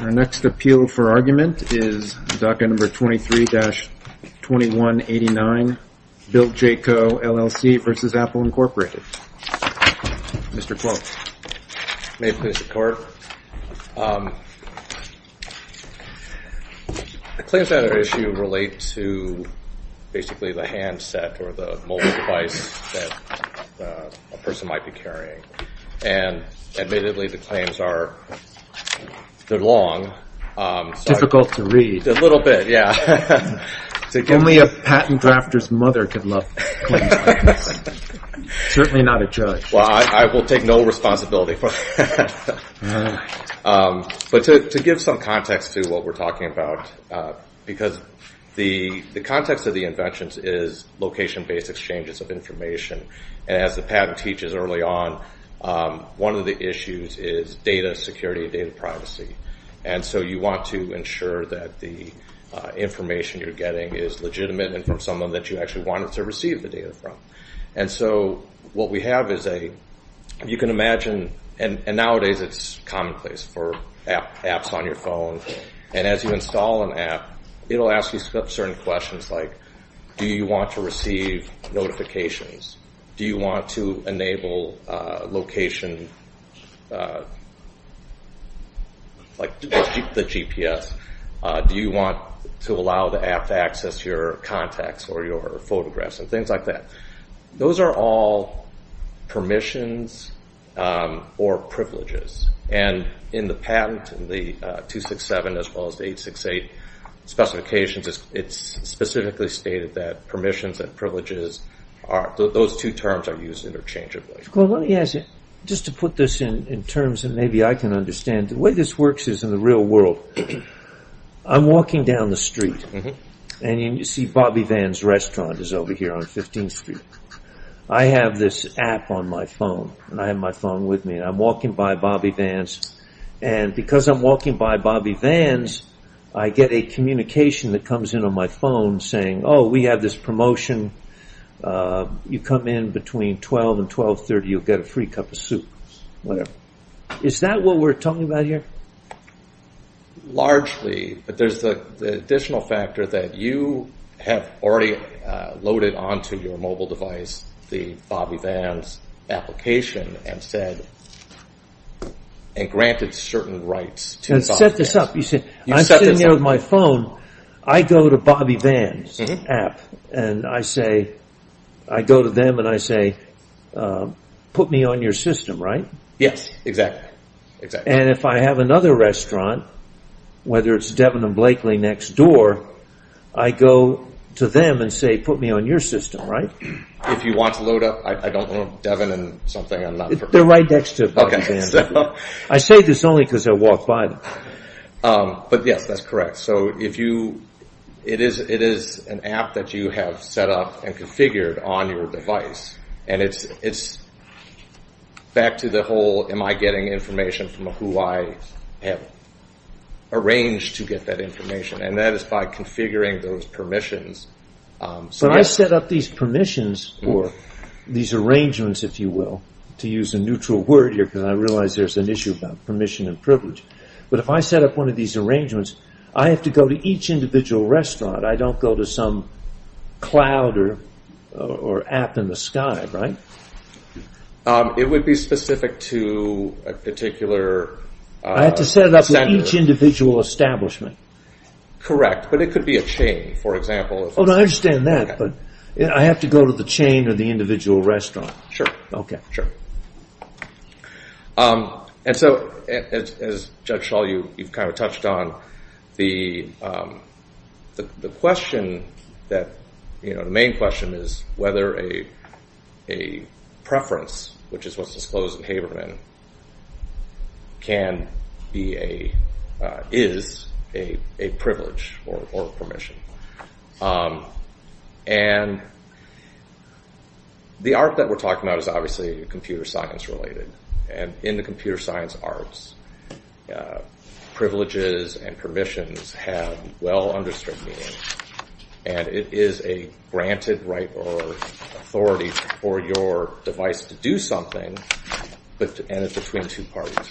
Our next appeal for argument is DACA number 23-2189, BillJCo, LLC v. Apple Inc. Mr. Quote. May it please the court. The claims that are at issue relate to basically the handset or the mobile device that a person might be carrying. And admittedly the claims are long. Difficult to read. A little bit, yeah. Only a patent drafter's mother could love claims like this. Certainly not a judge. Well, I will take no responsibility for that. But to give some context to what we're talking about, because the context of the inventions is location-based exchanges of information. And as the patent teaches early on, one of the issues is data security and data privacy. And so you want to ensure that the information you're getting is legitimate and from someone that you actually wanted to receive the data from. And so what we have is a – you can imagine – and nowadays it's commonplace for apps on your phone. And as you install an app, it will ask you certain questions like, do you want to receive notifications? Do you want to enable location – like the GPS? Do you want to allow the app to access your contacts or your photographs and things like that? Those are all permissions or privileges. And in the patent, in the 267 as well as the 868 specifications, it's specifically stated that permissions and privileges are – those two terms are used interchangeably. Well, let me ask you, just to put this in terms that maybe I can understand, the way this works is in the real world. I'm walking down the street, and you see Bobby Vann's restaurant is over here on 15th Street. I have this app on my phone, and I have my phone with me, and I'm walking by Bobby Vann's. And because I'm walking by Bobby Vann's, I get a communication that comes in on my phone saying, oh, we have this promotion. You come in between 12 and 12.30, you'll get a free cup of soup. Is that what we're talking about here? Largely, but there's the additional factor that you have already loaded onto your mobile device the Bobby Vann's application and said – and granted certain rights to Bobby Vann's. And set this up. You set this up. I'm sitting there with my phone. I go to Bobby Vann's app, and I say – I go to them and I say, put me on your system, right? Yes, exactly. And if I have another restaurant, whether it's Devin and Blakely next door, I go to them and say, put me on your system, right? If you want to load up – I don't know, Devin and something. They're right next to Bobby Vann's. I say this only because I walk by them. But yes, that's correct. It is an app that you have set up and configured on your device. And it's back to the whole am I getting information from who I have arranged to get that information. And that is by configuring those permissions. But I set up these permissions or these arrangements, if you will, to use a neutral word here because I realize there's an issue about permission and privilege. But if I set up one of these arrangements, I have to go to each individual restaurant. I don't go to some cloud or app in the sky, right? It would be specific to a particular – I have to set it up with each individual establishment. Correct, but it could be a chain, for example. I understand that, but I have to go to the chain or the individual restaurant. Sure. Okay. Sure. And so, as Judge Schall, you've kind of touched on, the question that – the main question is whether a preference, which is what's disclosed in Haberman, can be a – is a privilege or a permission. And the art that we're talking about is obviously computer science related. And in the computer science arts, privileges and permissions have well-understood meaning. And it is a granted right or authority for your device to do something, and it's between two parties.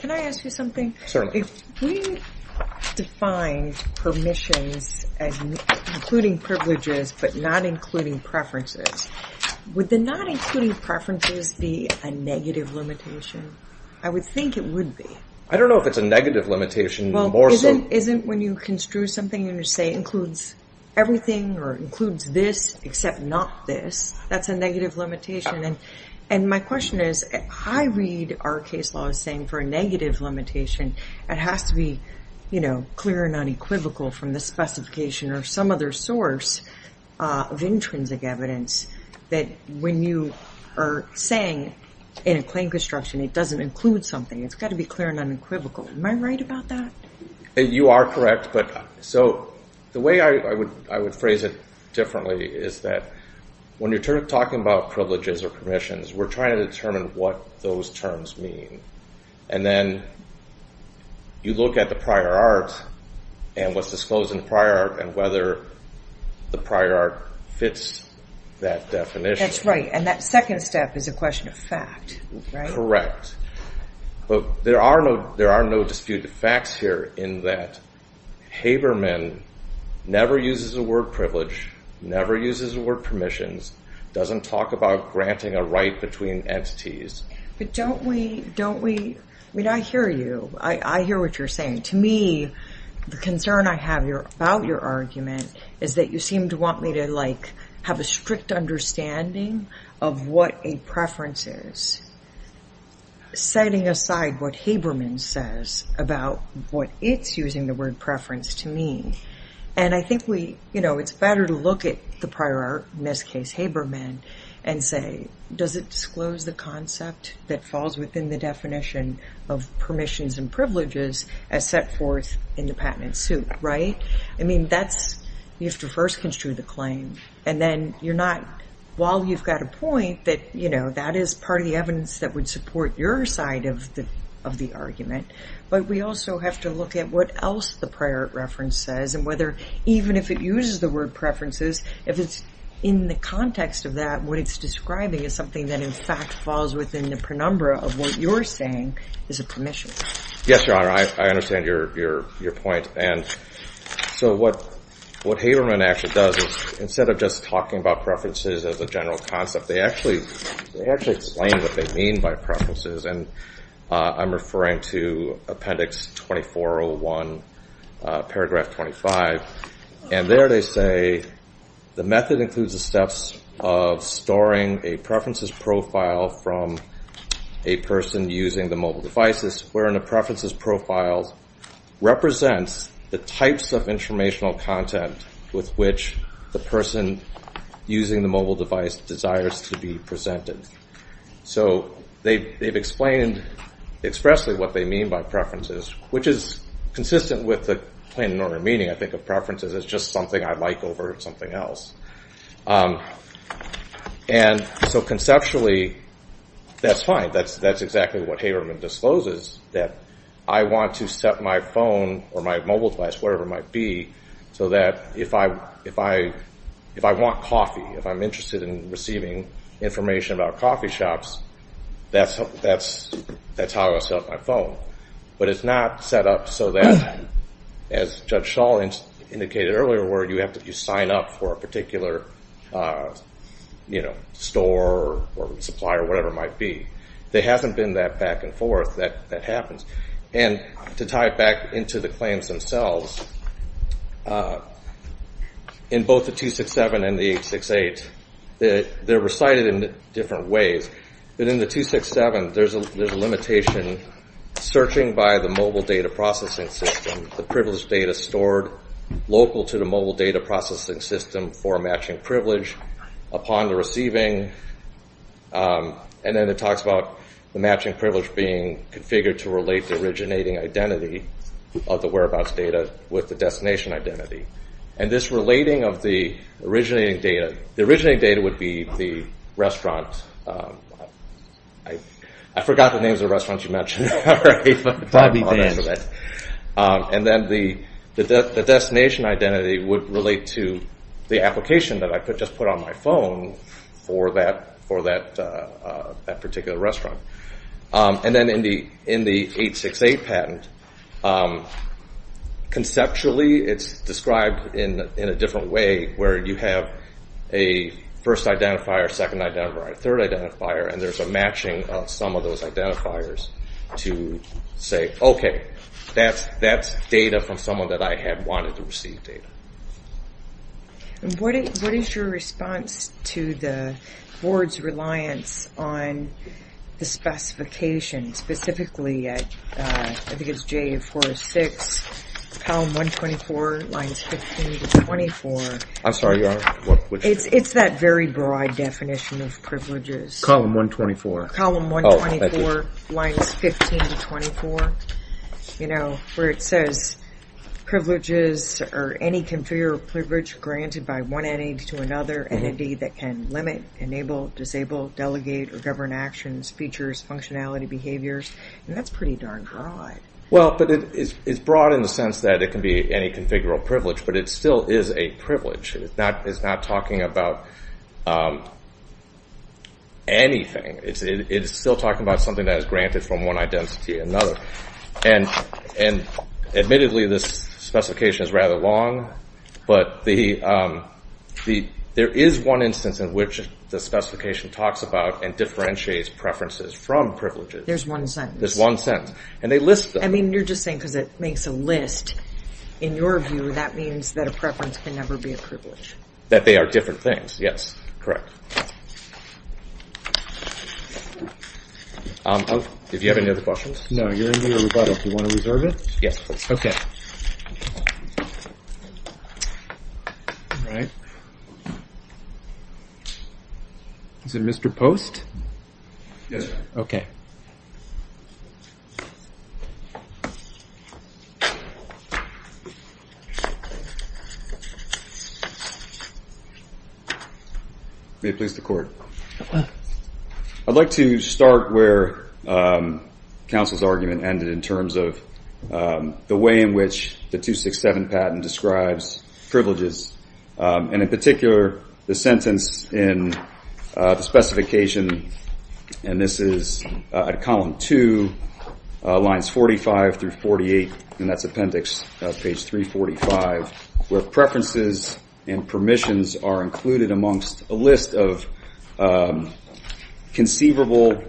Can I ask you something? Certainly. If we defined permissions as including privileges but not including preferences, would the not including preferences be a negative limitation? I would think it would be. I don't know if it's a negative limitation more so. Well, isn't when you construe something and you say it includes everything or it includes this except not this, that's a negative limitation? And my question is, I read our case law as saying for a negative limitation, it has to be clear and unequivocal from the specification or some other source of intrinsic evidence that when you are saying in a claim construction, it doesn't include something. It's got to be clear and unequivocal. Am I right about that? You are correct. So the way I would phrase it differently is that when you're talking about privileges or permissions, we're trying to determine what those terms mean. And then you look at the prior art and what's disclosed in the prior art and whether the prior art fits that definition. That's right. And that second step is a question of fact. Correct. But there are no disputed facts here in that Haberman never uses the word privilege, never uses the word permissions, doesn't talk about granting a right between entities. But don't we, don't we, I mean I hear you. I hear what you're saying. To me, the concern I have about your argument is that you seem to want me to like have a strict understanding of what a preference is, setting aside what Haberman says about what it's using the word preference to mean. And I think we, you know, it's better to look at the prior art, in this case Haberman, and say does it disclose the concept that falls within the definition of permissions and privileges as set forth in the patent suit, right? I mean that's, you have to first construe the claim. And then you're not, while you've got a point that, you know, that is part of the evidence that would support your side of the argument. But we also have to look at what else the prior art reference says and whether even if it uses the word preferences, if it's in the context of that, what it's describing is something that in fact falls within the penumbra of what you're saying is a permission. Yes, Your Honor, I understand your point. And so what Haberman actually does is instead of just talking about preferences as a general concept, they actually explain what they mean by preferences. And I'm referring to Appendix 2401, Paragraph 25. And there they say, the method includes the steps of storing a preferences profile from a person using the mobile devices, wherein a preferences profile represents the types of informational content with which the person using the mobile device desires to be presented. So they've explained expressly what they mean by preferences, which is consistent with the plain and normal meaning I think of preferences as just something I like over something else. And so conceptually, that's fine. That's exactly what Haberman discloses, that I want to set my phone or my mobile device, whatever it might be, so that if I want coffee, if I'm interested in receiving information about coffee shops, that's how I set up my phone. But it's not set up so that, as Judge Schall indicated earlier, where you sign up for a particular store or supplier or whatever it might be. There hasn't been that back and forth. That happens. And to tie it back into the claims themselves, in both the 267 and the 868, they're recited in different ways. But in the 267, there's a limitation searching by the mobile data processing system, the privilege data stored local to the mobile data processing system for matching privilege upon the receiving. And then it talks about the matching privilege being configured to relate the originating identity of the whereabouts data with the destination identity. And this relating of the originating data, the originating data would be the restaurant. I forgot the names of the restaurants you mentioned. And then the destination identity would relate to the application that I just put on my phone for that particular restaurant. And then in the 868 patent, conceptually it's described in a different way where you have a first identifier, second identifier, third identifier, and there's a matching of some of those identifiers to say, okay, that's data from someone that I had wanted to receive data. What is your response to the board's reliance on the specification, specifically at, I think it's JA406, column 124, lines 15 to 24? I'm sorry, your honor? It's that very broad definition of privileges. Column 124. Column 124, lines 15 to 24, where it says, privileges are any configurable privilege granted by one entity to another entity that can limit, enable, disable, delegate, or govern actions, features, functionality, behaviors. And that's pretty darn broad. Well, but it's broad in the sense that it can be any configurable privilege, but it still is a privilege. It's not talking about anything. It's still talking about something that is granted from one identity to another. And admittedly, this specification is rather long, but there is one instance in which the specification talks about and differentiates preferences from privileges. There's one sentence. There's one sentence. And they list them. I mean, you're just saying because it makes a list. In your view, that means that a preference can never be a privilege. That they are different things, yes. Correct. If you have any other questions. No, you're ending the rebuttal. Do you want to reserve it? Yes. Okay. All right. Is it Mr. Post? Yes, sir. May it please the court. I'd like to start where counsel's argument ended in terms of the way in which the 267 patent describes privileges. And in particular, the sentence in the specification, and this is at column two, lines 45 through 48, and that's appendix page 345, where preferences and permissions are included amongst a list of conceivable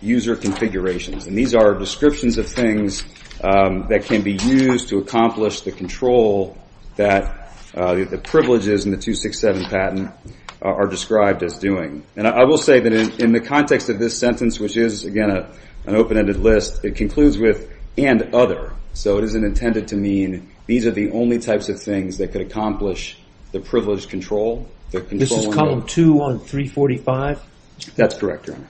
user configurations. And these are descriptions of things that can be used to accomplish the control that the privileges in the 267 patent are described as doing. And I will say that in the context of this sentence, which is, again, an open-ended list, it concludes with and other. So it isn't intended to mean these are the only types of things that could accomplish the privileged control. This is column two on 345? That's correct, Your Honor.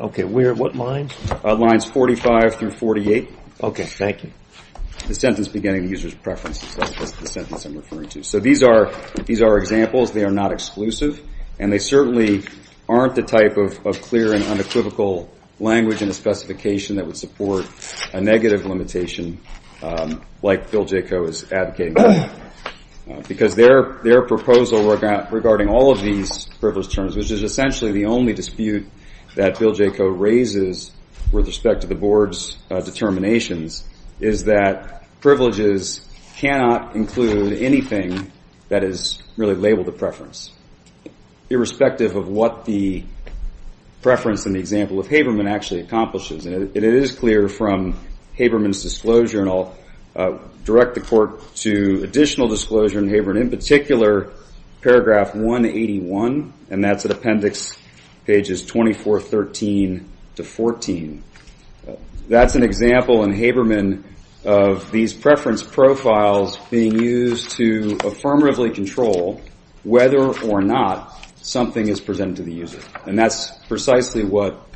Okay. And we're at what line? Lines 45 through 48. Okay. Thank you. The sentence beginning with users' preferences, that's the sentence I'm referring to. So these are examples. They are not exclusive. And they certainly aren't the type of clear and unequivocal language in the specification that would support a negative limitation like Bill Jaco is advocating. Because their proposal regarding all of these privileged terms, which is essentially the only dispute that Bill Jaco raises with respect to the Board's determinations, is that privileges cannot include anything that is really labeled a preference, irrespective of what the preference in the example of Haberman actually accomplishes. And it is clear from Haberman's disclosure, and I'll direct the Court to additional disclosure in Haberman in particular, paragraph 181, and that's at appendix pages 24, 13 to 14. That's an example in Haberman of these preference profiles being used to affirmatively control whether or not something is presented to the user. And that's precisely what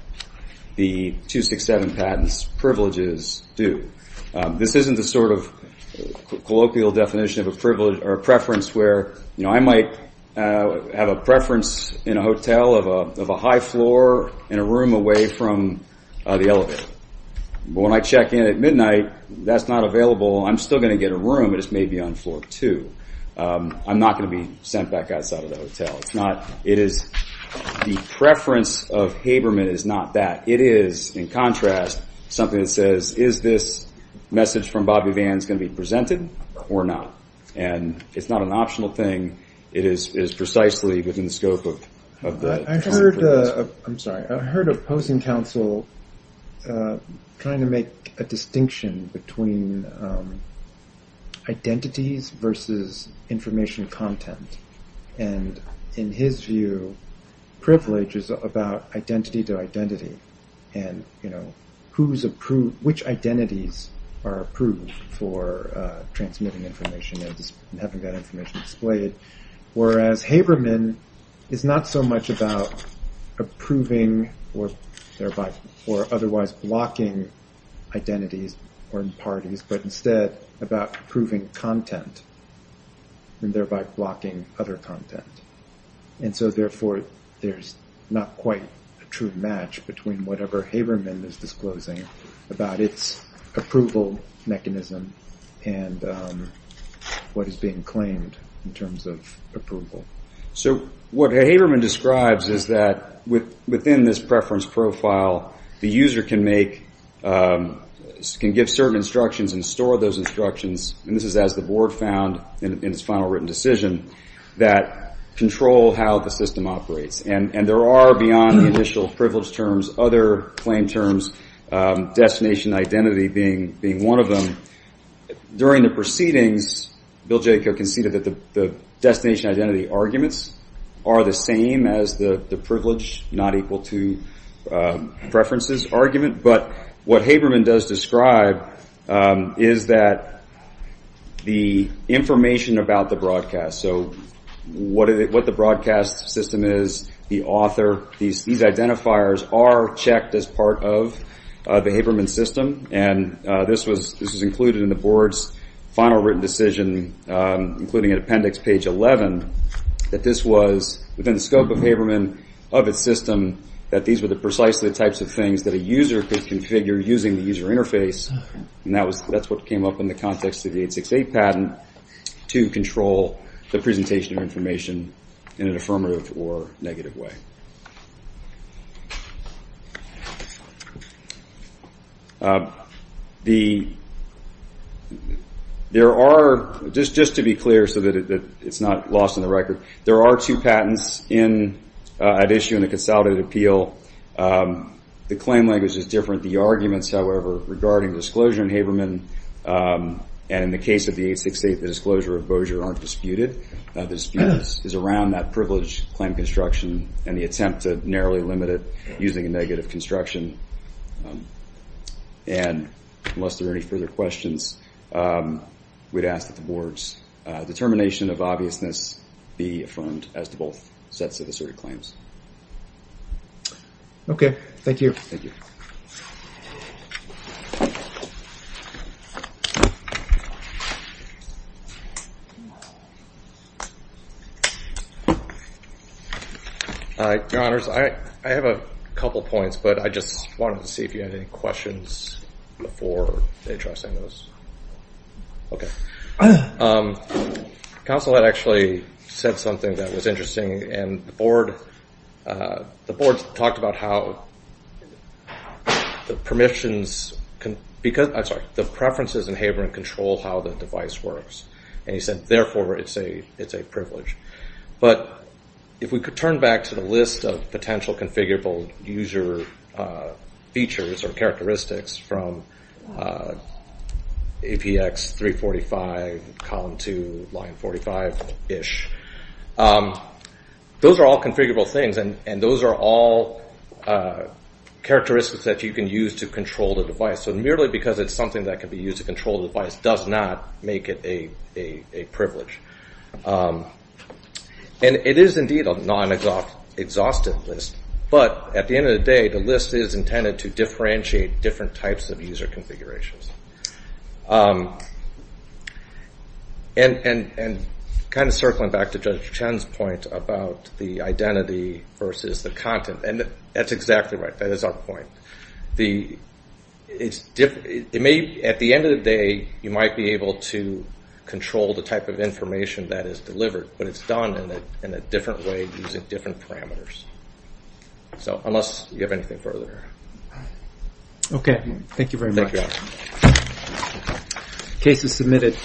the 267 patents privileges do. This isn't the sort of colloquial definition of a privilege or a preference where, you know, I might have a preference in a hotel of a high floor and a room away from the elevator. But when I check in at midnight, that's not available. I'm still going to get a room, but it's maybe on floor two. I'm not going to be sent back outside of the hotel. The preference of Haberman is not that. It is, in contrast, something that says, is this message from Bobby Vance going to be presented or not? And it's not an optional thing. It is precisely within the scope of the- I'm sorry. I heard a opposing counsel trying to make a distinction between identities versus information content. And in his view, privilege is about identity to identity and, you know, which identities are approved for transmitting information and having that information displayed. Whereas Haberman is not so much about approving or otherwise blocking identities or parties, but instead about approving content and thereby blocking other content. And so, therefore, there's not quite a true match between whatever Haberman is disclosing about its approval mechanism and what is being claimed in terms of approval. So what Haberman describes is that within this preference profile, the user can give certain instructions and store those instructions, and this is as the board found in its final written decision, that control how the system operates. And there are, beyond the initial privilege terms, other claim terms, destination identity being one of them. During the proceedings, Bill Jacob conceded that the destination identity arguments are the same as the privilege, not equal to preferences argument. But what Haberman does describe is that the information about the broadcast, so what the broadcast system is, the author, these identifiers are checked as part of the Haberman system. And this was included in the board's final written decision, including an appendix, page 11, that this was within the scope of Haberman, of its system, that these were the precisely types of things that a user could configure using the user interface. And that's what came up in the context of the 868 patent, to control the presentation of information in an affirmative or negative way. There are, just to be clear so that it's not lost in the record, there are two patents at issue in a consolidated appeal. The claim language is different. The arguments, however, regarding disclosure in Haberman, and in the case of the 868, the disclosure of Bossier, aren't disputed. The dispute is around that privilege claim construction and the attempt to narrowly limit it using a negative construction. And unless there are any further questions, we'd ask that the board's determination of obviousness be affirmed as to both sets of asserted claims. Okay. Thank you. Your Honors, I have a couple points, but I just wanted to see if you had any questions before addressing those. Okay. Council had actually said something that was interesting, and the board talked about how the preferences in Haberman control how the device works. And he said, therefore, it's a privilege. But if we could turn back to the list of potential configurable user features or characteristics from APX 345, column 2, line 45-ish, those are all configurable things, and those are all characteristics that you can use to control the device. So merely because it's something that can be used to control the device does not make it a privilege. And it is indeed a non-exhaustive list, but at the end of the day, the list is intended to differentiate different types of user configurations. And kind of circling back to Judge Chen's point about the identity versus the content, and that's exactly right, that is our point. At the end of the day, you might be able to control the type of information that is delivered, but it's done in a different way using different parameters. So unless you have anything further. Okay. Thank you very much. Case is submitted.